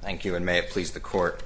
Thank you, and may it please the court.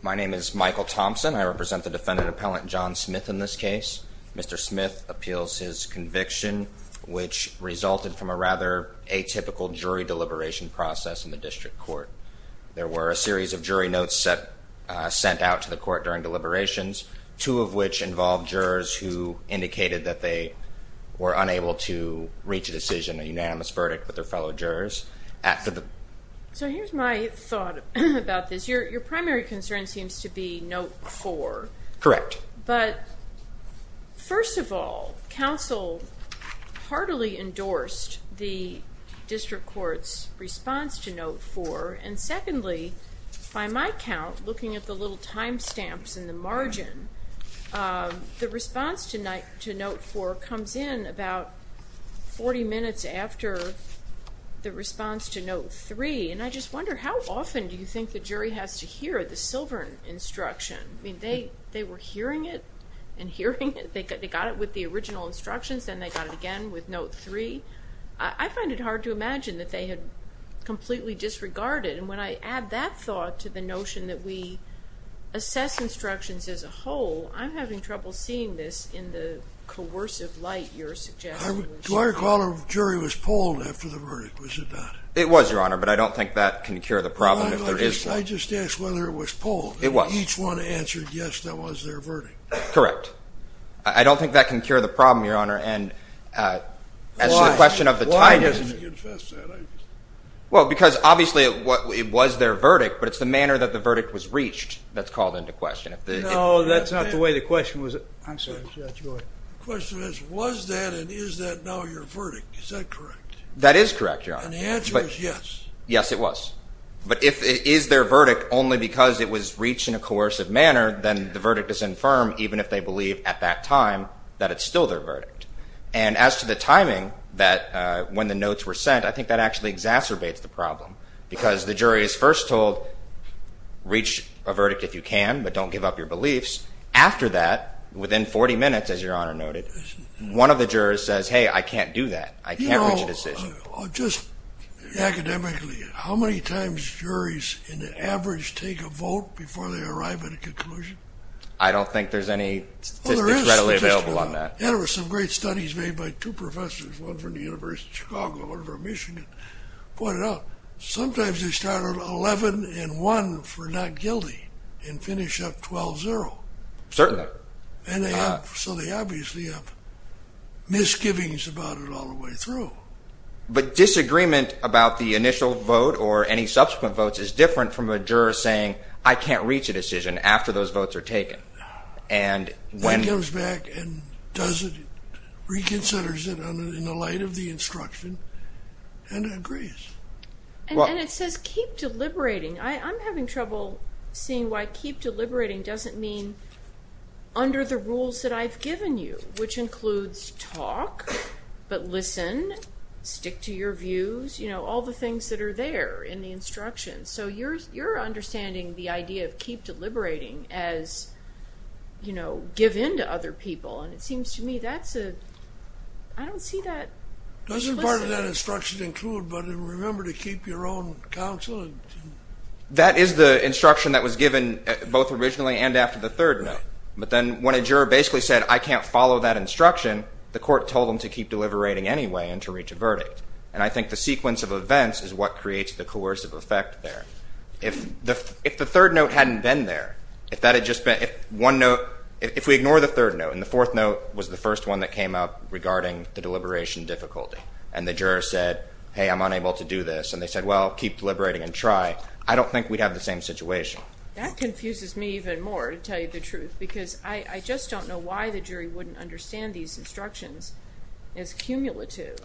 My name is Michael Thompson. I represent the defendant appellant John Smith in this case. Mr. Smith appeals his conviction, which resulted from a rather atypical jury deliberation process in the district court. There were a series of jury notes sent out to the court during deliberations, two of which involved jurors who indicated that they were unable to reach a decision, a unanimous verdict, with their fellow jurors. So here's my thought about this. Your primary concern seems to be note four. Correct. But first of all, counsel heartily endorsed the district court's response to note four. And secondly, by my count, looking at the little time stamps in the margin, the response to note four comes in about 40 minutes after the response to note three. And I just wonder, how often do you think the jury has to hear the Silver instruction? I mean, they were hearing it and hearing it. They got it with the original instructions, then they got it again with note three. I find it hard to imagine that they had completely disregarded. And when I add that thought to the notion that we assess instructions as a whole, I'm having trouble seeing this in the coercive light you're suggesting. Do I recall a jury was polled after the verdict? Was it not? It was, Your Honor, but I don't think that can cure the problem. I just asked whether it was polled. It was. And each one answered yes, that was their verdict. Correct. I don't think that can cure the problem, Your Honor. And as to the question of the tidings. Why doesn't he confess that? Well, because obviously it was their verdict, but it's the manner that the verdict was reached that's called into question. No, that's not the way the question was. I'm sorry, Judge Roy. The question is, was that and is that now your verdict? Is that correct? That is correct, Your Honor. And the answer is yes. Yes, it was. But if it is their verdict only because it was reached in a coercive manner, then the verdict is infirm, even if they believe at that time that it's still their verdict. And as to the timing that when the notes were sent, I think that actually exacerbates the problem. Because the jury is first told, reach a verdict if you can, but don't give up your beliefs. After that, within 40 minutes, as Your Honor noted, one of the jurors says, hey, I can't do that. I can't reach a decision. Just academically, how many times juries in the average take a vote before they arrive at a conclusion? I don't think there's any statistics readily available on that. There were some great studies made by two professors, one from the University of Chicago, one from Michigan, pointed out sometimes they counted 11 and 1 for not guilty and finished up 12-0. Certainly. So they obviously have misgivings about it all the way through. But disagreement about the initial vote or any subsequent votes is different from a juror saying, I can't reach a decision after those votes are taken. And when he comes back and does it, reconsiders it in the light of the instruction, and agrees. And it says keep deliberating. I'm having trouble seeing why keep deliberating doesn't mean under the rules that I've given you, which includes talk, but listen, stick to your views, all the things that are there in the instructions. So you're understanding the idea of keep deliberating as give in to other people. And it seems to me that's a, I don't see that. Doesn't part of that instruction include, remember to keep your own counsel? That is the instruction that was given both originally and after the third note. But then when a juror basically said, I can't follow that instruction, the court told him to keep deliberating anyway and to reach a verdict. And I think the sequence of events is what creates the coercive effect there. If the third note hadn't been there, if that had just been, one note, if we ignore the third note, and the fourth note was the first one that came up regarding the deliberation difficulty, and the juror said, hey, I'm unable to do this, and they said, well, keep deliberating and try, I don't think we'd have the same situation. That confuses me even more, to tell you the truth. Because I just don't know why the jury wouldn't understand these instructions as cumulative.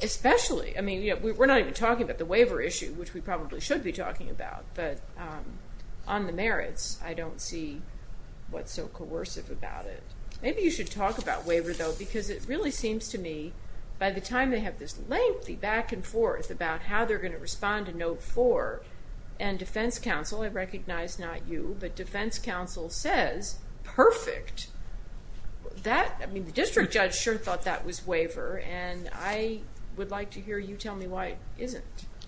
Especially, I mean, we're not even talking about the waiver issue, which we probably should be talking about. But on the merits, I don't see what's so coercive about it. Maybe you should talk about waiver, though, because it really seems to me, by the time they have this lengthy back and forth about how they're going to respond to note four, and defense counsel, I recognize not you, but defense counsel says, perfect. I mean, the district judge sure thought that was waiver. And I would like to hear you tell me why it isn't.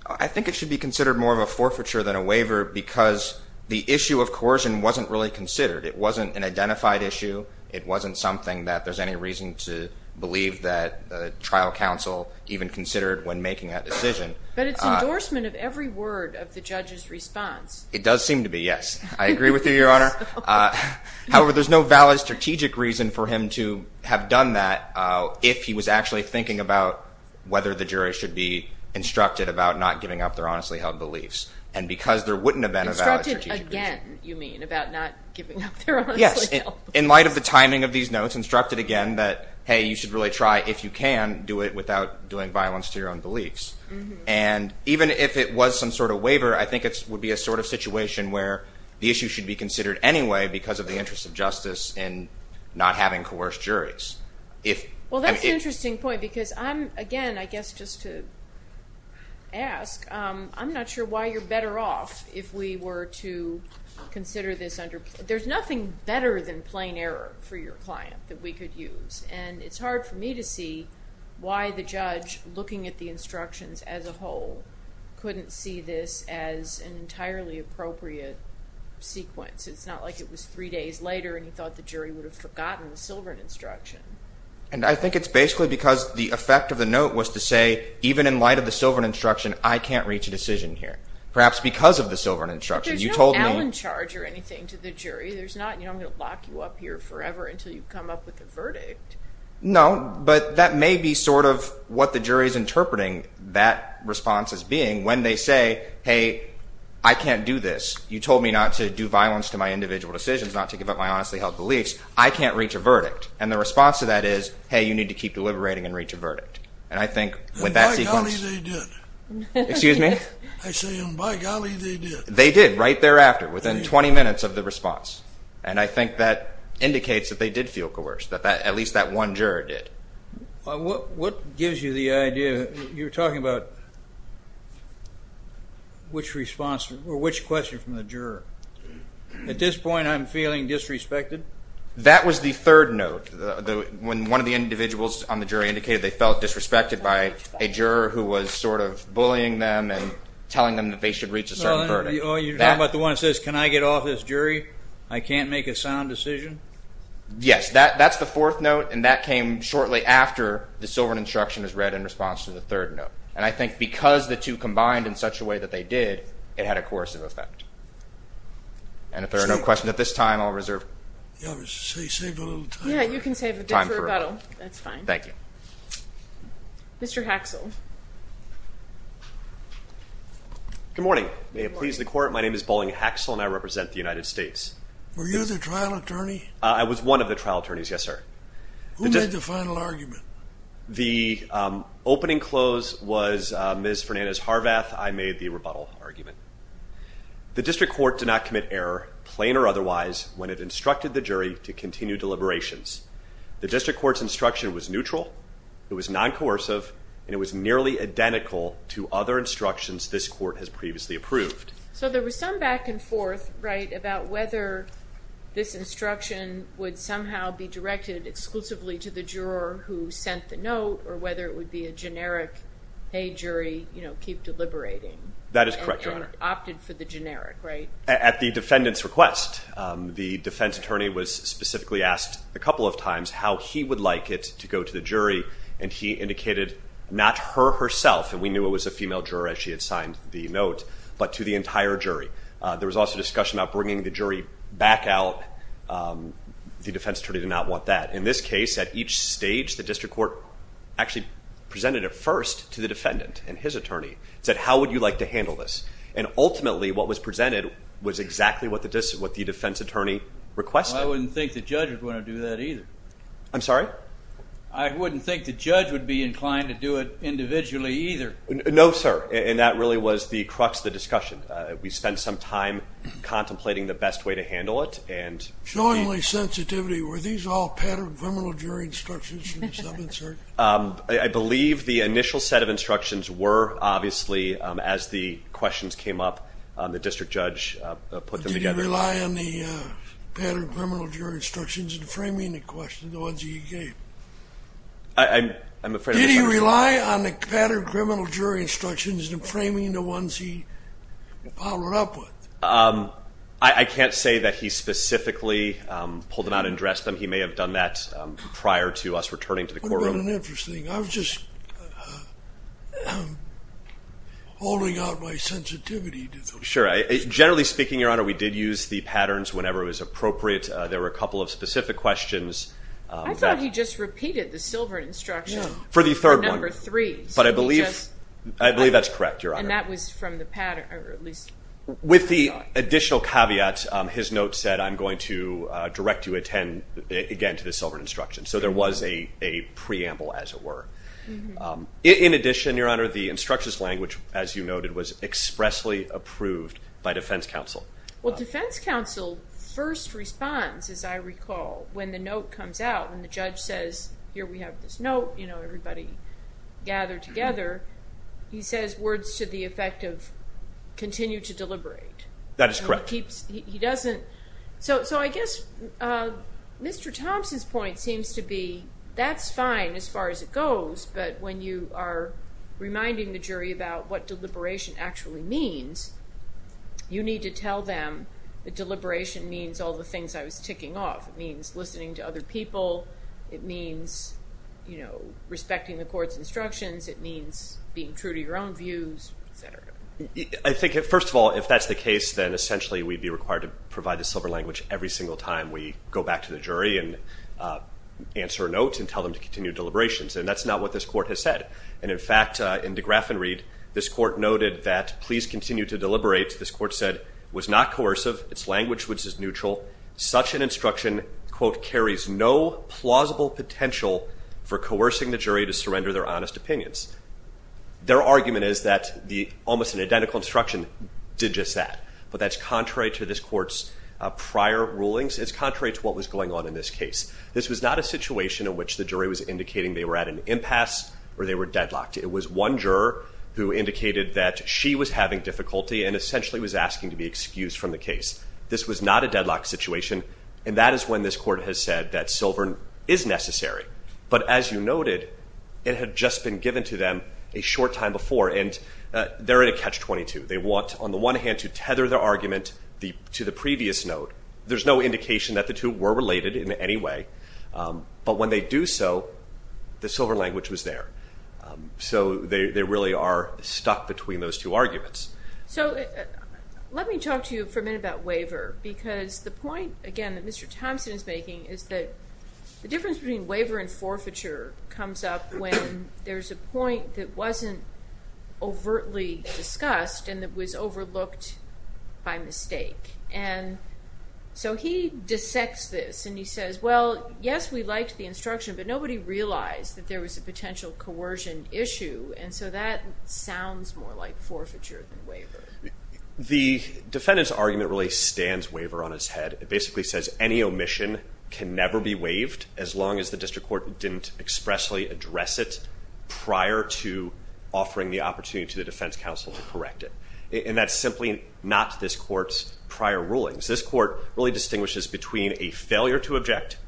I think it should be considered more of a forfeiture than a waiver, because the issue of coercion wasn't really considered. It wasn't an identified issue. It wasn't something that there's any reason to believe that the trial counsel even considered when making that decision. But it's endorsement of every word of the judge's response. It does seem to be, yes. I agree with you, Your Honor. However, there's no valid strategic reason for him to have done that if he was actually thinking about whether the jury should be instructed about not giving up their honestly held beliefs. And because there wouldn't have been a valid strategic reason. Instructed again, you mean, about not giving up their honestly held beliefs. Yes, in light of the timing of these notes, instructed again that, hey, you should really try, if you can, do it without doing violence to your own beliefs. And even if it was some sort of waiver, I think it would be a sort of situation where the issue should be considered anyway because of the interest of justice in not having coerced juries. Well, that's an interesting point, because I'm, again, I guess just to ask, I'm not sure why you're better off if we were to consider this under. There's nothing better than plain error for your client that we could use. And it's hard for me to see why the judge, looking at the instructions as a whole, couldn't see this as an entirely appropriate sequence. It's not like it was three days later and he thought the jury would have forgotten the Silverton instruction. And I think it's basically because the effect of the note was to say, even in light of the Silverton instruction, I can't reach a decision here, perhaps because of the Silverton instruction. There's no Allen charge or anything to the jury. There's not, I'm going to lock you up here forever until you come up with a verdict. No, but that may be sort of what the jury is interpreting that response as being when they say, hey, I can't do this. You told me not to do violence to my individual decisions, not to give up my honestly held beliefs. I can't reach a verdict. And the response to that is, hey, you need to keep deliberating and reach a verdict. And I think with that sequence. And by golly, they did. Excuse me? I say, and by golly, they did. They did right thereafter, within 20 minutes of the response. And I think that indicates that they did feel coerced, that at least that one juror did. What gives you the idea that you're talking about which response or which question from the juror? At this point, I'm feeling disrespected? That was the third note, when one of the individuals on the jury indicated they felt disrespected by a juror who was sort of bullying them and telling them that they should reach a certain verdict. You're talking about the one that says, can I get off this jury? I can't make a sound decision? Yes, that's the fourth note. And that came shortly after the silver instruction was read in response to the third note. And I think because the two combined in such a way that they did, it had a coercive effect. And if there are no questions at this time, I'll reserve. Yeah, save a little time. Yeah, you can save a bit for rebuttal. That's fine. Thank you. Mr. Haxel. Good morning. May it please the court, my name is Bolling Haxel, and I represent the United States. Were you the trial attorney? I was one of the trial attorneys, yes, sir. Who made the final argument? The opening close was Ms. Fernandez-Harvath. I made the rebuttal argument. The district court did not commit error, plain or otherwise, when it instructed the jury to continue deliberations. The district court's instruction was neutral, it was non-coercive, and it was merely identical to other instructions this court has previously approved. So there was some back and forth about whether this instruction would somehow be directed exclusively to the juror who sent the note, or whether it would be a generic, hey, jury, keep deliberating. That is correct, Your Honor. And opted for the generic, right? At the defendant's request. The defense attorney was specifically asked a couple of times how he would like it to go to the jury. And he indicated, not her herself, and we knew it was a female juror as she had signed the note, but to the entire jury. There was also discussion about bringing the jury back out. The defense attorney did not want that. In this case, at each stage, the district court actually presented it first to the defendant and his attorney. Said, how would you like to handle this? And ultimately, what was presented was exactly what the defense attorney requested. I wouldn't think the judges want to do that either. I'm sorry? I wouldn't think the judge would be inclined to do it individually either. No, sir. And that really was the crux of the discussion. We spent some time contemplating the best way to handle it. Showing my sensitivity, were these all patterned criminal jury instructions from the 7th, sir? I believe the initial set of instructions were, obviously, as the questions came up, the district judge put them together. Did you rely on the patterned criminal jury instructions in framing the questions, the ones that you gave? I'm afraid I'm just understanding. Did he rely on the patterned criminal jury instructions in framing the ones he bottled up with? I can't say that he specifically pulled them out and dressed them. He may have done that prior to us returning to the courtroom. What about an interesting thing? I was just holding out my sensitivity to those. Sure, generally speaking, Your Honor, we did use the patterns whenever it was appropriate. There were a couple of specific questions. I thought he just repeated the Silverton instruction for number three. But I believe that's correct, Your Honor. And that was from the pattern, or at least the thought. With the additional caveat, his note said, I'm going to direct you again to the Silverton instruction. So there was a preamble, as it were. In addition, Your Honor, the instructions language, as you noted, was expressly approved by defense counsel. Well, defense counsel first responds, as I recall, when the note comes out, when the judge says, here we have this note, everybody gather together. He says words to the effect of, continue to deliberate. That is correct. So I guess Mr. Thompson's point seems to be, that's fine as far as it goes. But when you are reminding the jury about what deliberation actually means, you need to tell them that deliberation means all the things I was ticking off. It means listening to other people. It means respecting the court's instructions. It means being true to your own views, et cetera. I think, first of all, if that's the case, then essentially we'd be required to provide the silver language every single time we go back to the jury and answer a note and tell them to continue deliberations. And that's not what this court has said. And in fact, in DeGraff and Reed, this court noted that, please continue to deliberate. This court said, was not coercive. Its language was just neutral. Such an instruction, quote, carries no plausible potential for coercing the jury to surrender their honest opinions. Their argument is that almost an identical instruction did just that. But that's contrary to this court's prior rulings. It's contrary to what was going on in this case. This was not a situation in which the jury was indicating they were at an impasse or they were deadlocked. It was one juror who indicated that she was having difficulty and essentially was asking to be excused from the case. This was not a deadlock situation. And that is when this court has said that silver is necessary. But as you noted, it had just been given to them a short time before. And they're in a catch-22. They want, on the one hand, to tether their argument to the previous note. There's no indication that the two were related in any way. But when they do so, the silver language was there. So they really are stuck between those two arguments. So let me talk to you for a minute about waiver. Because the point, again, that Mr. Thompson is making is that the difference between waiver and forfeiture comes up when there's a point that wasn't overtly discussed and that was overlooked by mistake. And so he dissects this. And he says, well, yes, we liked the instruction. But nobody realized that there was a potential coercion issue. And so that sounds more like forfeiture than waiver. The defendant's argument really stands waiver on his head. It basically says any omission can never be waived as long as the district court didn't expressly address it prior to offering the opportunity to the defense counsel to correct it. And that's simply not this court's prior rulings. This court really distinguishes between a failure to object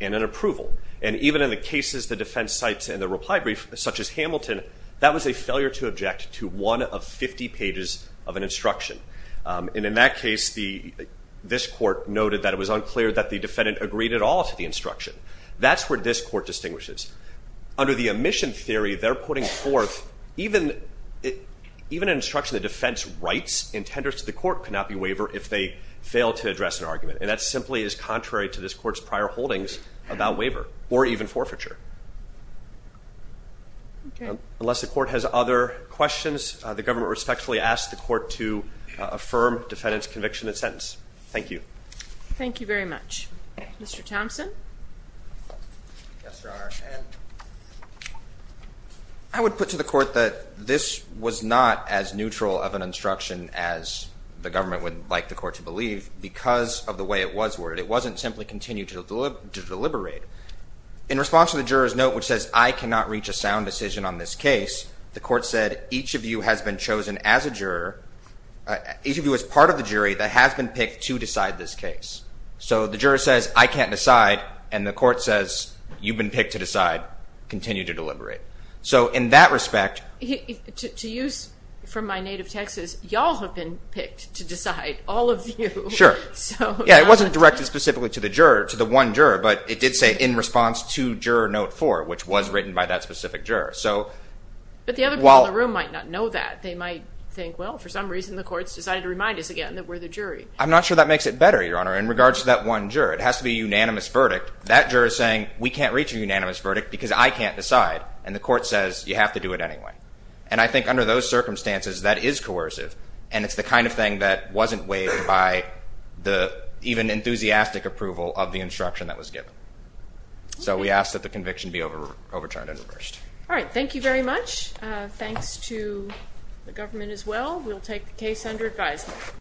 and an approval. And even in the cases the defense cites in the reply brief, such as Hamilton, that was a failure to object to one of 50 pages of an instruction. And in that case, this court noted that it was unclear that the defendant agreed at all to the instruction. That's where this court distinguishes. Under the omission theory, they're putting forth, even an instruction the defense writes and tenders to the court cannot be waiver if they fail to address an argument. And that simply is contrary to this court's prior holdings about waiver, or even forfeiture. Unless the court has other questions, the government respectfully asks the court to affirm defendant's conviction and sentence. Thank you. Thank you very much. Mr. Thompson? Yes, Your Honor. And I would put to the court that this was not as neutral of an instruction as the government would like the court to believe because of the way it was worded. It wasn't simply continue to deliberate. In response to the juror's note, which says I cannot reach a sound decision on this case, the court said each of you has been chosen as a juror, each of you as part of the jury that has been picked to decide this case. So the juror says, I can't decide. And the court says, you've been picked to decide. Continue to deliberate. So in that respect. To use from my native Texas, y'all have been picked to decide, all of you. Sure. Yeah, it wasn't directed specifically to the juror, to the one juror, but it did say in response to juror note four, which was written by that specific juror. But the other people in the room might not know that. They might think, well, for some reason the court's decided to remind us again that we're the jury. I'm not sure that makes it better, Your Honor. In regards to that one juror, it has to be a unanimous verdict. That juror is saying, we can't reach a unanimous verdict because I can't decide. And the court says, you have to do it anyway. And I think under those circumstances, that is coercive. And it's the kind of thing that wasn't waived by the even enthusiastic approval of the instruction that was given. So we ask that the conviction be overturned and reversed. All right, thank you very much. Thanks to the government as well. We'll take the case under advisement.